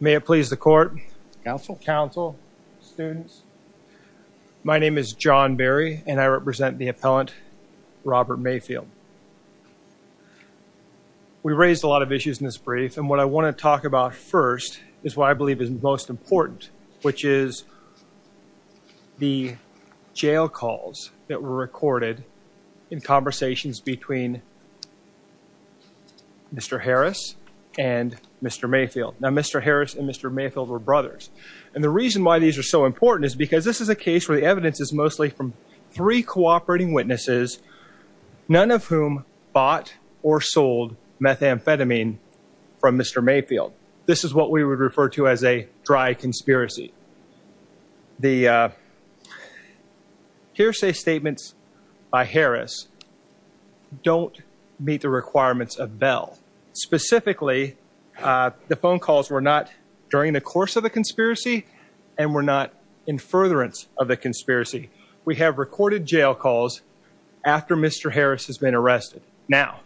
May it please the court. Counsel. Counsel. Students. My name is John Berry and I represent the appellant Robert Mayfield. We raised a lot of issues in this brief and what I want to talk about first is what I believe is most important, which is the jail calls that were recorded in conversations between Mr. Harris and Mr. Mayfield. Now Mr. Harris and Mr. Mayfield were brothers and the reason why these are so important is because this is a case where the evidence is mostly from three cooperating witnesses, none of whom bought or sold methamphetamine from Mr. Mayfield. This is what we would refer to as a dry conspiracy. The hearsay statements by Harris don't meet the requirements of Bell. Specifically, the phone calls were not during the course of the conspiracy and were not in furtherance of the conspiracy. We have recorded jail calls after Mr. Harris has been arrested. Now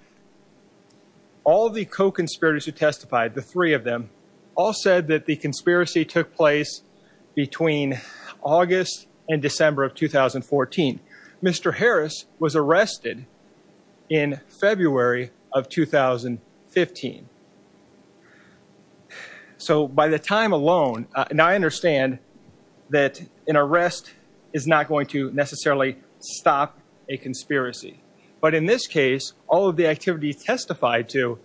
all the co-conspirators who testified, the three of them, all said that the conspiracy took place between August and December of 2014. Mr. Harris was arrested in February of 2015. So by the time alone, and I understand that an arrest is not going to necessarily stop a conspiracy, but in this case, all of the activities testified to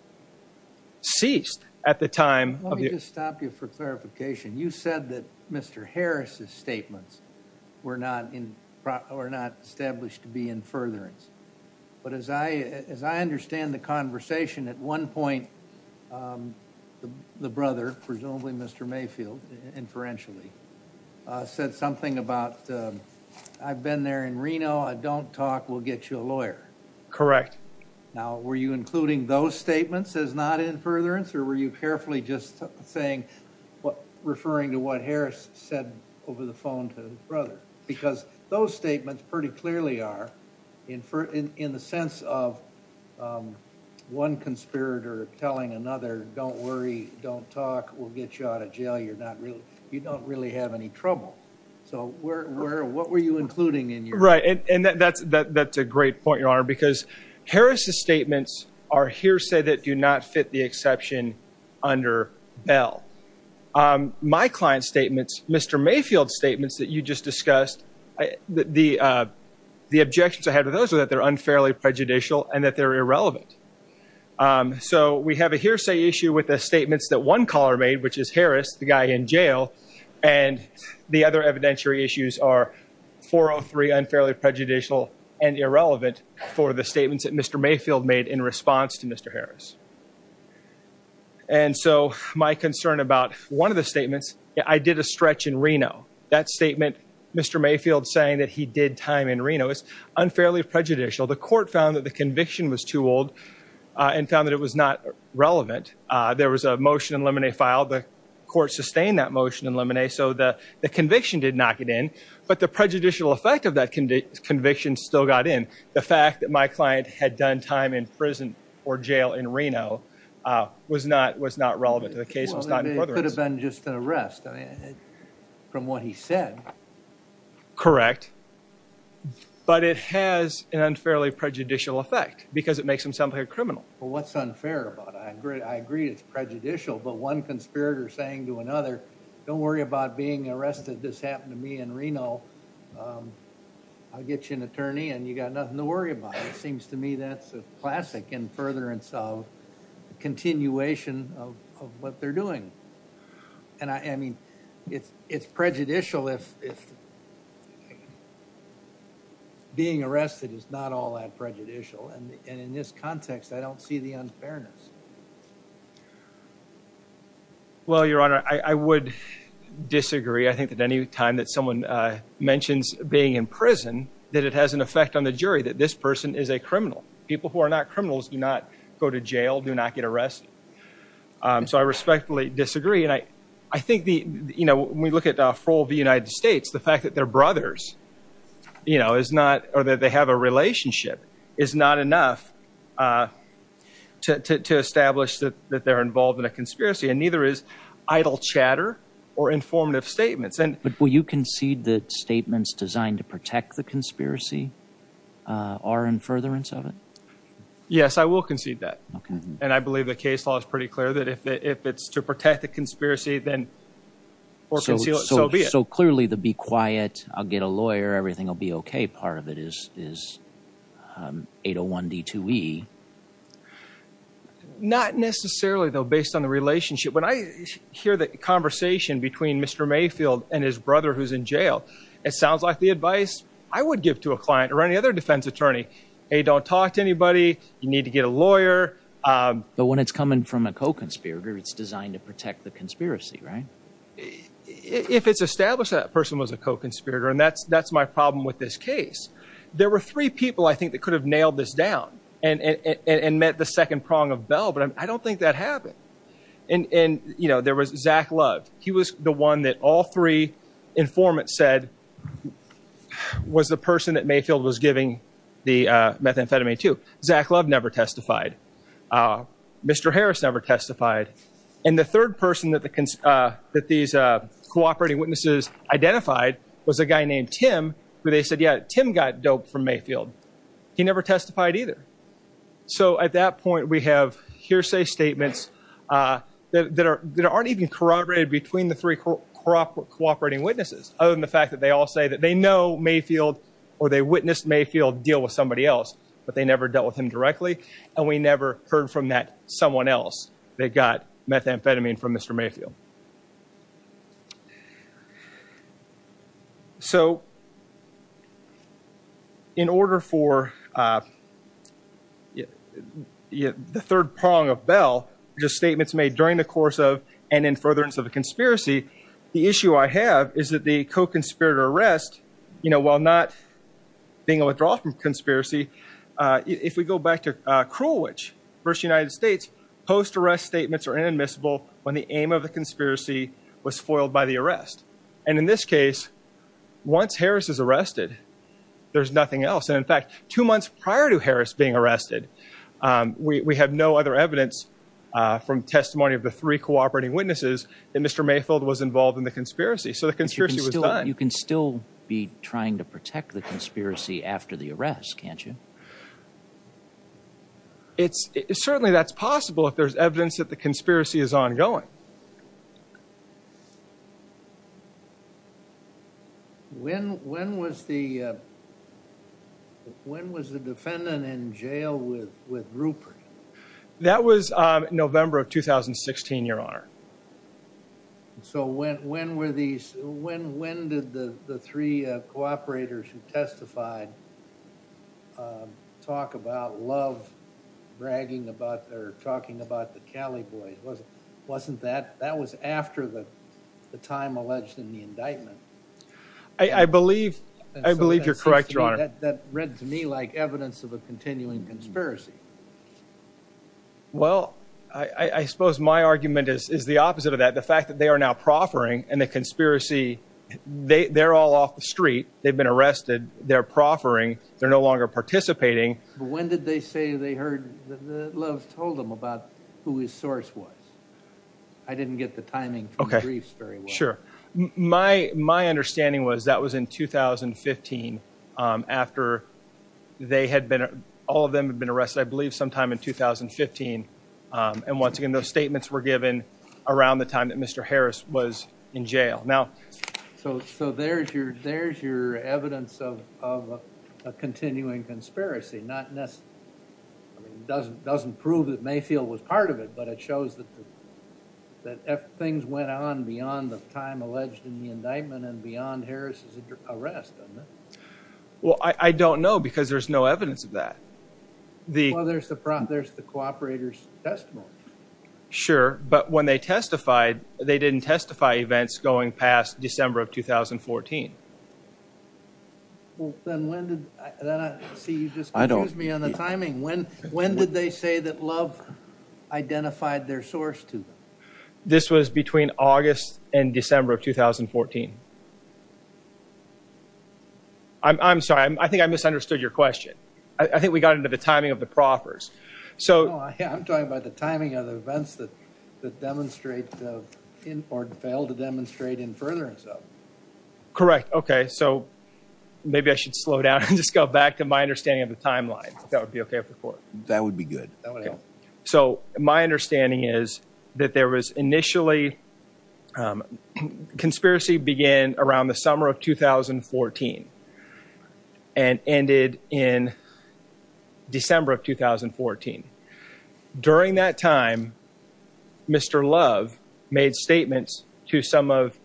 ceased at the time. Let me just stop you for clarification. You said that Mr. Harris's statements were not established to be in furtherance, but as I understand the conversation, at one point the brother, presumably Mr. Mayfield, inferentially, said something about, I've been there in Reno, I don't talk, we'll get you a lawyer. Correct. Now were you including those statements as not in furtherance or were you carefully just saying, referring to what Harris said over the phone to his brother? Because those statements pretty clearly are in the sense of one conspirator telling another, don't worry, don't talk, we'll get you out of jail, you don't really have any trouble. So what were you including in your- Right. And that's a great point, Your Honor, because Harris's statements are hearsay that do not fit the exception under Bell. My client's statements, Mr. Mayfield's statements that you just discussed, the objections I had with those are that they're unfairly which is Harris, the guy in jail, and the other evidentiary issues are 403 unfairly prejudicial and irrelevant for the statements that Mr. Mayfield made in response to Mr. Harris. And so my concern about one of the statements, I did a stretch in Reno. That statement, Mr. Mayfield saying that he did time in Reno is unfairly prejudicial. The court found that the conviction was too old and found that it was not relevant. There was a motion in limine filed, the court sustained that motion in limine, so the conviction did not get in, but the prejudicial effect of that conviction still got in. The fact that my client had done time in prison or jail in Reno was not relevant to the case. It could have been just an arrest from what he said. Correct. But it has an unfairly prejudicial effect because it makes him sound like a criminal. Well, what's unfair about it? I agree it's prejudicial, but one conspirator saying to another, don't worry about being arrested. This happened to me in Reno. I'll get you an attorney and you got nothing to worry about. It seems to me that's a classic in furtherance of continuation of what they're doing. And I mean, it's prejudicial if you're being arrested is not all that prejudicial. And in this context, I don't see the unfairness. Well, Your Honor, I would disagree. I think that any time that someone mentions being in prison, that it has an effect on the jury, that this person is a criminal. People who are not criminals do not go to jail, do not get arrested. So I respectfully disagree. I think when we look at the role of the United States, the fact that they're brothers, you know, is not or that they have a relationship is not enough to establish that they're involved in a conspiracy and neither is idle chatter or informative statements. But will you concede that statements designed to protect the conspiracy are in furtherance of it? Yes, I will concede that. And I believe the case law is pretty clear that if it's to protect the conspiracy, then so be it. So clearly the be quiet, I'll get a lawyer. Everything will be OK. Part of it is 801 D2E. Not necessarily, though, based on the relationship. When I hear the conversation between Mr. Mayfield and his brother who's in jail, it sounds like the advice I would give to a client or any other defense attorney. Hey, don't talk to anybody. You need to get a lawyer. But when it's coming from a co-conspirator, it's designed to protect the conspiracy, right? If it's established that person was a co-conspirator and that's that's my problem with this case. There were three people, I think, that could have nailed this down and met the second prong of Bell. But I don't think that happened. And, you know, there was Zach Love. He was the one that all three informants said was the person that Mayfield was giving the methamphetamine to. Zach Love never testified. Mr. Harris never testified. And the third person that these cooperating witnesses identified was a guy named Tim, who they said, yeah, Tim got doped from Mayfield. He never testified either. So at that point, we have hearsay statements that aren't even corroborated between the three cooperating witnesses, other than the fact that they all say that they know Mayfield or they witnessed Mayfield deal with somebody else, but they never dealt with him heard from that someone else that got methamphetamine from Mr. Mayfield. So in order for the third prong of Bell, just statements made during the course of and in furtherance of a conspiracy, the issue I have is that the co-conspirator arrest, you know, while not being a withdrawal from conspiracy, if we go back to Cruel Witch versus United States, post-arrest statements are inadmissible when the aim of the conspiracy was foiled by the arrest. And in this case, once Harris is arrested, there's nothing else. And in fact, two months prior to Harris being arrested, we have no other evidence from testimony of the three cooperating witnesses that Mr. Mayfield was involved in the conspiracy. So the conspiracy was done. You can still be trying to protect the conspiracy after the arrest, can't you? It's certainly that's possible if there's evidence that the conspiracy is ongoing. When when was the when was the defendant in jail with with Rupert? That was November of 2016, your honor. So when when were these when when did the three cooperators who testified talk about love, bragging about their talking about the Cali boys? Was it wasn't that that was after the time alleged in the indictment? I believe I believe you're correct, your honor. That read to me like evidence of a continuing conspiracy. Well, I suppose my argument is is the opposite of that. The fact that they are now proffering and the conspiracy, they're all off the street. They've been arrested. They're proffering. They're no longer participating. But when did they say they heard the love told them about who his source was? I didn't get the timing. Okay, sure. My my understanding was that was in 2015 after they had been all of them had been arrested, I believe, sometime in 2015. And once again, those statements were given around the time that Mr. Harris was in jail. Now, so so there's your there's your evidence of of a continuing conspiracy, not just doesn't doesn't prove that Mayfield was part of it, but it shows that that things went on beyond the time alleged in the indictment and beyond Harris's arrest. Well, I don't know, because there's no evidence of that. The there's the there's the cooperator's testimony. Sure. But when they testified, they didn't testify events going past December of 2014. Well, then when did I see you just I don't use me on the timing. When when did they say that love identified their source to them? This was between August and December of 2014. I'm sorry, I think I misunderstood your question. I think we got into the timing of the proffers. So I'm talking about the timing of the events that that demonstrate or fail to demonstrate in furtherance. Correct. Okay. So maybe I should slow down and just go back to my understanding of the timeline. That would be okay for that would be good. So my understanding is that there was initially a conspiracy began around the summer of 2014 and ended in December of 2014. During that time, Mr. Love made statements to some of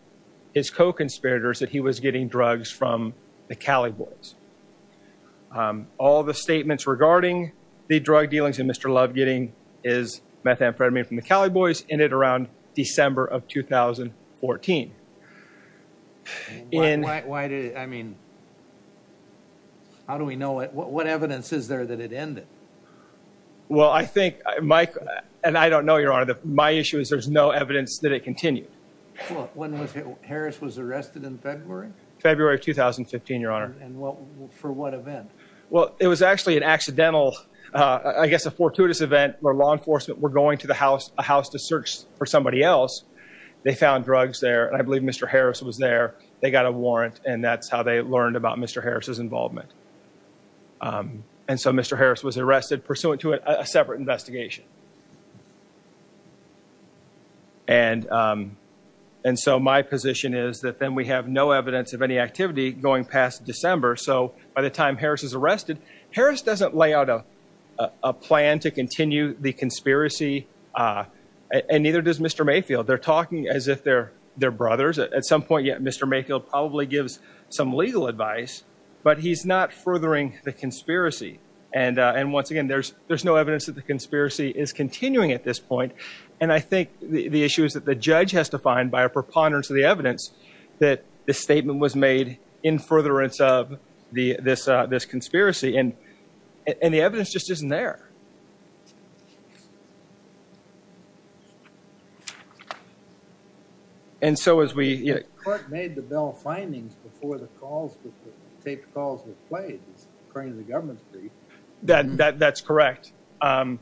his co-conspirators that he was getting drugs from the Cali boys. All the statements regarding the drug dealings and Mr. Love getting his drugs from the Cali boys ended in December of 2014. And why do I mean, how do we know what evidence is there that it ended? Well, I think Mike and I don't know your honor that my issue is there's no evidence that it continued. When was it? Harris was arrested in February, February 2015, your honor. And what for what event? Well, it was actually an accidental, I guess a fortuitous event where law enforcement were going to the house, a house to search for somebody else. They found drugs there. And I believe Mr. Harris was there. They got a warrant and that's how they learned about Mr. Harris's involvement. And so Mr. Harris was arrested pursuant to a separate investigation. And and so my position is that then we have no evidence of any activity going past December. So by the time Harris is arrested, Harris doesn't lay out a plan to continue the conspiracy. And neither does Mr. Mayfield. They're talking as if they're they're brothers at some point. Yet Mr. Mayfield probably gives some legal advice, but he's not furthering the conspiracy. And and once again, there's there's no evidence that the conspiracy is continuing at this point. And I think the issue is that the judge has to find by a preponderance of the evidence that the statement was made in furtherance of the this this conspiracy and and the evidence just isn't there. And so as we made the bell findings before the calls, the tape calls were played, according to the government, that that's correct. The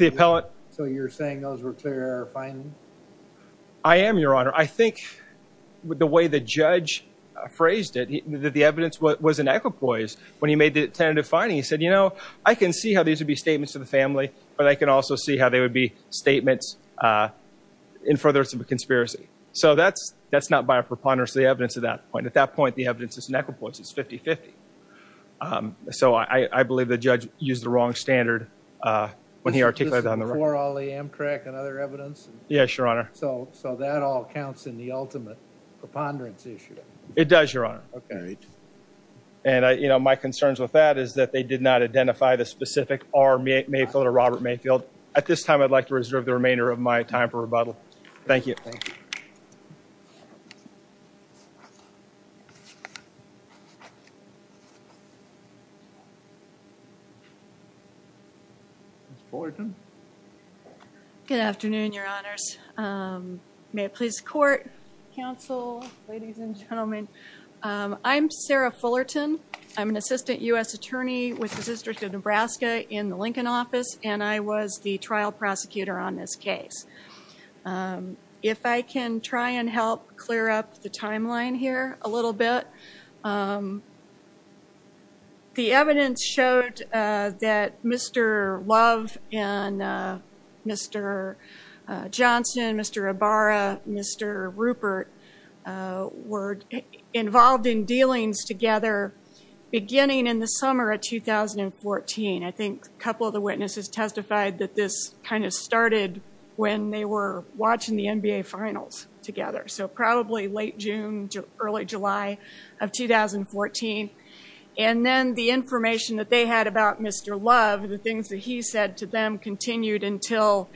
appellate. So you're saying those were clarifying? I am, Your Honor. I think the way the judge phrased it, that the evidence was in equipoise when he made the tentative finding, he said, you know, I can see how these would be statements to the family, but I can also see how they would be statements in furtherance of a conspiracy. So that's that's not by a preponderance of the evidence at that point. At that point, the evidence is in equipoise. It's 50 50. So I believe the judge used the wrong standard when he articulated on the floor, all the Amtrak and other evidence. Yes, Your Honor. So so that all counts in the ultimate preponderance issue. It does, Your Honor. OK. And, you know, my concerns with that is that they did not identify the specific army, Mayfield or Robert Mayfield. At this time, I'd like to reserve the remainder of my time for rebuttal. Thank you. Ms. Fullerton. Good afternoon, Your Honors. May it please the court, counsel, ladies and gentlemen. I'm Sarah Fullerton. I'm an assistant U.S. attorney with the District of Nebraska in the United States. If I can try and help clear up the timeline here a little bit. The evidence showed that Mr. Love and Mr. Johnson, Mr. Ibarra, Mr. Rupert were involved in dealings together beginning in the summer of 2014. I think a couple of the witnesses testified that this kind of started when they were watching the NBA finals together. So probably late June, early July of 2014. And then the information that they had about Mr. Love, the things that he said to them continued until,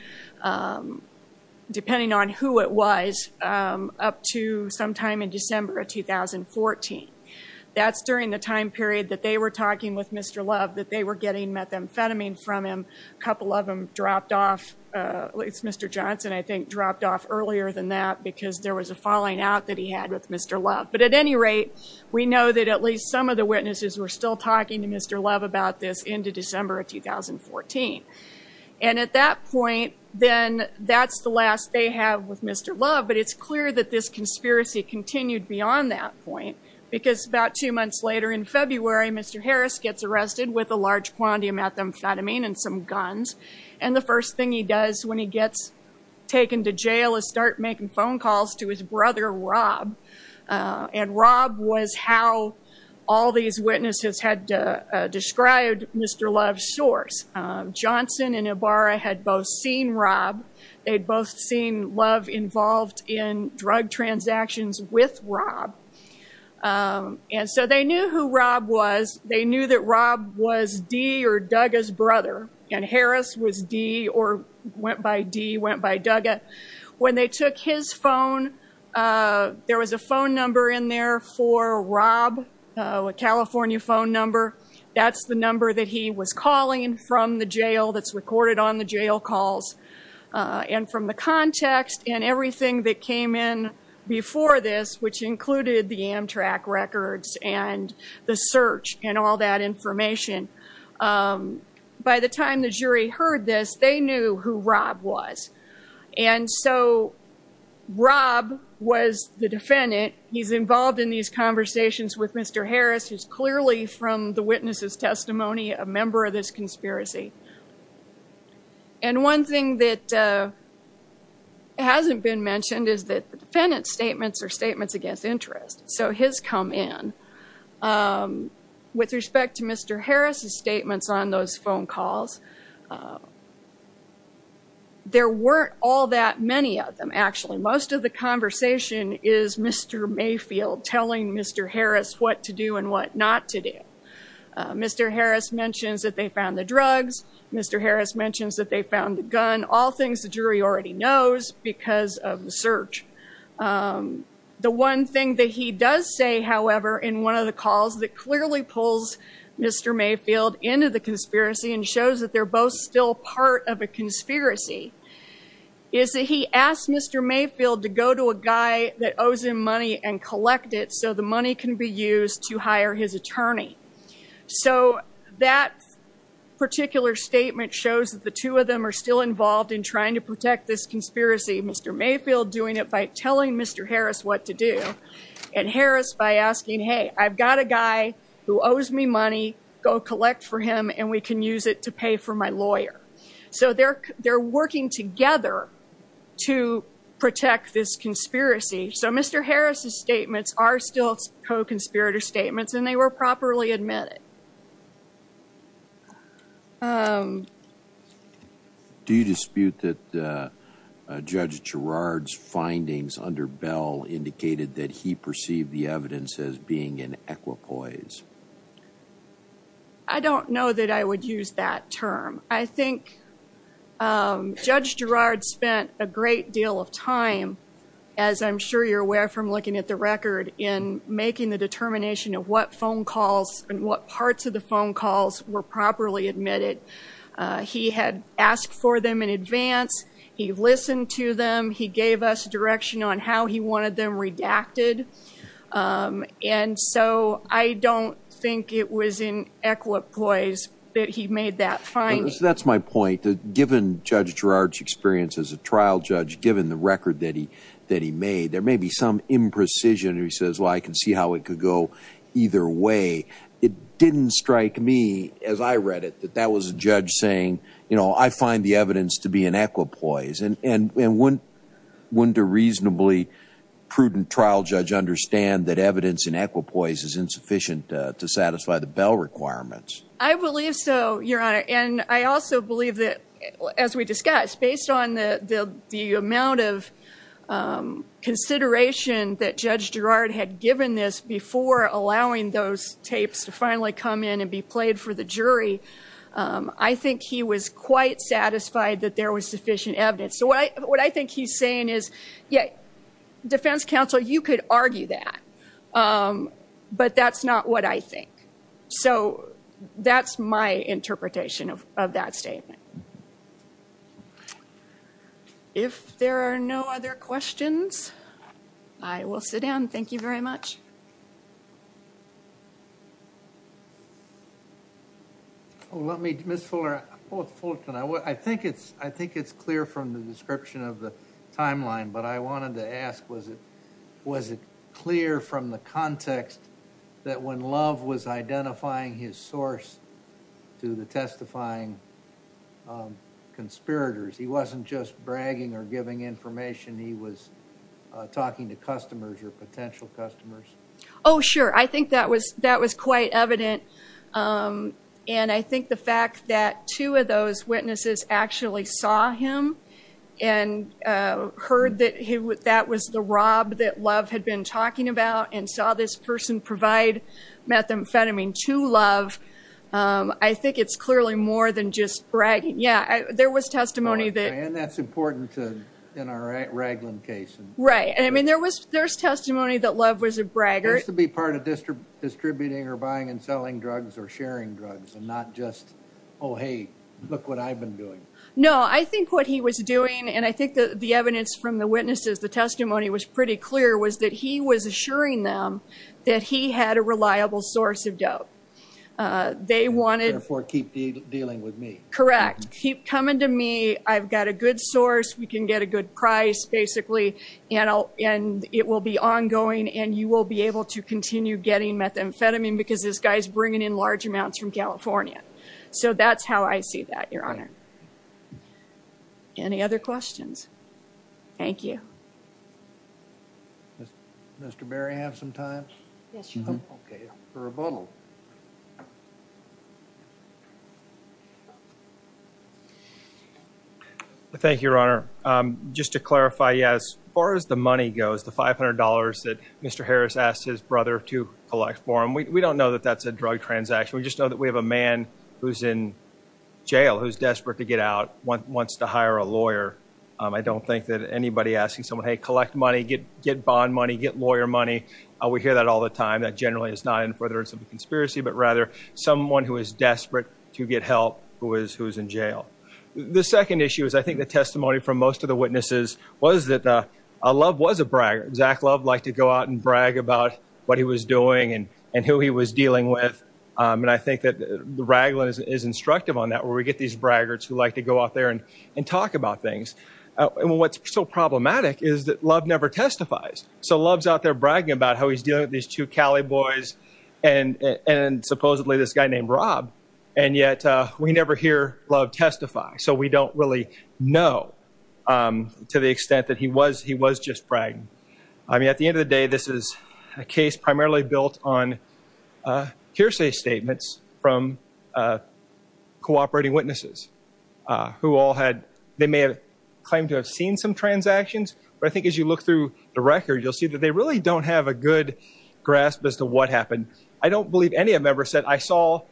depending on who it was, up to sometime in December of 2014. That's during the time period that they were talking with Mr. Love, that they were getting amphetamine from him. A couple of them dropped off, at least Mr. Johnson, I think dropped off earlier than that because there was a falling out that he had with Mr. Love. But at any rate, we know that at least some of the witnesses were still talking to Mr. Love about this into December of 2014. And at that point, then that's the last they have with Mr. Love. But it's clear that this conspiracy continued beyond that point because about two months later in February, Mr. Harris gets arrested with a large quantity of methamphetamine and some guns. And the first thing he does when he gets taken to jail is start making phone calls to his brother, Rob. And Rob was how all these witnesses had described Mr. Love's source. Johnson and Ibarra had both seen Rob. They'd both seen Love involved in drug transactions with Rob. And so they knew who Rob was. They knew that Rob was Dee or Dugga's brother. And Harris was Dee or went by Dee, went by Dugga. When they took his phone, there was a phone number in there for Rob, a California phone number. That's the number that he was calling from the jail that's recorded on the jail calls. And from the context and everything that came in before this, which included the and all that information, by the time the jury heard this, they knew who Rob was. And so Rob was the defendant. He's involved in these conversations with Mr. Harris, who's clearly from the witness's testimony, a member of this conspiracy. And one thing that hasn't been mentioned is that the defendant's statements are with respect to Mr. Harris's statements on those phone calls. There weren't all that many of them, actually. Most of the conversation is Mr. Mayfield telling Mr. Harris what to do and what not to do. Mr. Harris mentions that they found the drugs. Mr. Harris mentions that they found the gun, all things the jury already knows because of the search. The one thing that he does say, however, in one of the calls that clearly pulls Mr. Mayfield into the conspiracy and shows that they're both still part of a conspiracy is that he asked Mr. Mayfield to go to a guy that owes him money and collect it so the money can be used to hire his attorney. So that particular statement shows that the two of them are still telling Mr. Harris what to do and Harris by asking, hey, I've got a guy who owes me money, go collect for him, and we can use it to pay for my lawyer. So they're working together to protect this conspiracy. So Mr. Harris's statements are still co-conspirator statements and they were properly admitted. Do you dispute that Judge Girard's findings under Bell indicated that he perceived the evidence as being an equipoise? I don't know that I would use that term. I think Judge Girard spent a great deal of time, as I'm sure you're aware from looking at the phone calls and what parts of the phone calls were properly admitted. He had asked for them in advance. He listened to them. He gave us direction on how he wanted them redacted. And so I don't think it was in equipoise that he made that finding. That's my point. Given Judge Girard's experience as a trial judge, given the record that he made, there may be some precision. He says, well, I can see how it could go either way. It didn't strike me as I read it, that that was a judge saying, you know, I find the evidence to be in equipoise and wouldn't a reasonably prudent trial judge understand that evidence in equipoise is insufficient to satisfy the Bell requirements? I believe so, Your Honor. And I also believe that, as we discussed, based on the amount of consideration that Judge Girard had given this before allowing those tapes to finally come in and be played for the jury, I think he was quite satisfied that there was sufficient evidence. So what I think he's saying is, yeah, defense counsel, you could argue that. But that's not what I think. So that's my interpretation of that statement. If there are no other questions, I will sit down. Thank you very much. Let me, Ms. Fullerton, I think it's clear from the description of the timeline, but I wanted to ask, was it clear from the context that when Love was identifying his source to the testifying conspirators, he wasn't just bragging or giving information, he was talking to customers or potential customers? Oh, sure. I think that was quite evident. And I think the fact that two of those witnesses actually saw him and heard that that was the methamphetamine to Love, I think it's clearly more than just bragging. Yeah, there was testimony that... And that's important in our Raglan case. Right. I mean, there was testimony that Love was a bragger. Used to be part of distributing or buying and selling drugs or sharing drugs and not just, oh, hey, look what I've been doing. No, I think what he was doing, and I think the evidence from the witnesses, the testimony was pretty clear, was that he was assuring them that he had a reliable source of dope. They wanted... Therefore, keep dealing with me. Correct. Keep coming to me. I've got a good source. We can get a good price, basically, and it will be ongoing and you will be able to continue getting methamphetamine because this guy's bringing in large amounts from California. So that's how I see that, Your Honor. Any other questions? Thank you. Does Mr. Berry have some time? Yes, Your Honor. Okay, for rebuttal. Thank you, Your Honor. Just to clarify, yeah, as far as the money goes, the $500 that Mr. Harris asked his brother to collect for him, we don't know that that's a drug transaction. We just know that we have a man who's in jail, who's desperate to get out, wants to hire a lawyer. I don't think that anybody asking someone, hey, collect money, get bond money, get lawyer money, we hear that all the time. That generally is not in for the conspiracy, but rather someone who is desperate to get help who is in jail. The second issue is I think the testimony from most of the witnesses was that Love was a braggart. Zach Love liked to go out and brag about what he was doing and who he was dealing with. And I think that the raglan is instructive on that where we get these braggarts who like to go out there and talk about things. And what's so problematic is that Love never testifies. So Love's out there bragging about how he's dealing with these two Cali boys and supposedly this guy named Rob. And yet we never hear Love testify. So we don't really know to the extent that he was just bragging. I mean, at the end of the day, this is a case primarily built on hearsay statements from cooperating witnesses who all had, they may have claimed to have seen some transactions, but I think as you look through the record, you'll see that they really don't have a good grasp as to what happened. I don't believe any of them ever said, I saw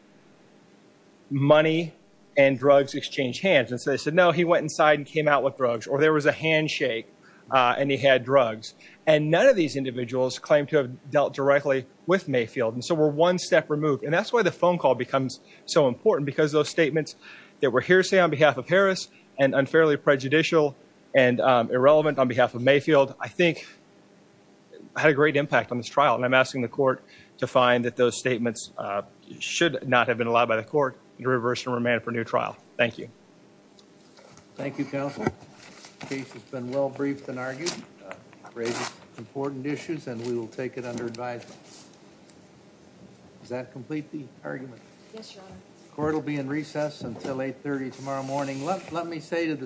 money and drugs exchange hands. And so they said, no, he went inside and came out with drugs, or there was a handshake and he had drugs. And none of these individuals claim to have dealt directly with Mayfield. And so we're one step removed. And that's why the phone call becomes so important because those statements that were hearsay on behalf of Harris and unfairly prejudicial and irrelevant on behalf of Mayfield, I think had a great impact on this trial. And I'm asking the court to find that those statements should not have been allowed by the court to reverse and remand for new trial. Thank you. Thank you, counsel. Case has been well briefed and argued, raises important issues, and we will take it under advisement. Does that complete the argument? Yes, your honor. Court will be in recess until 8 30 tomorrow morning. Let me say to the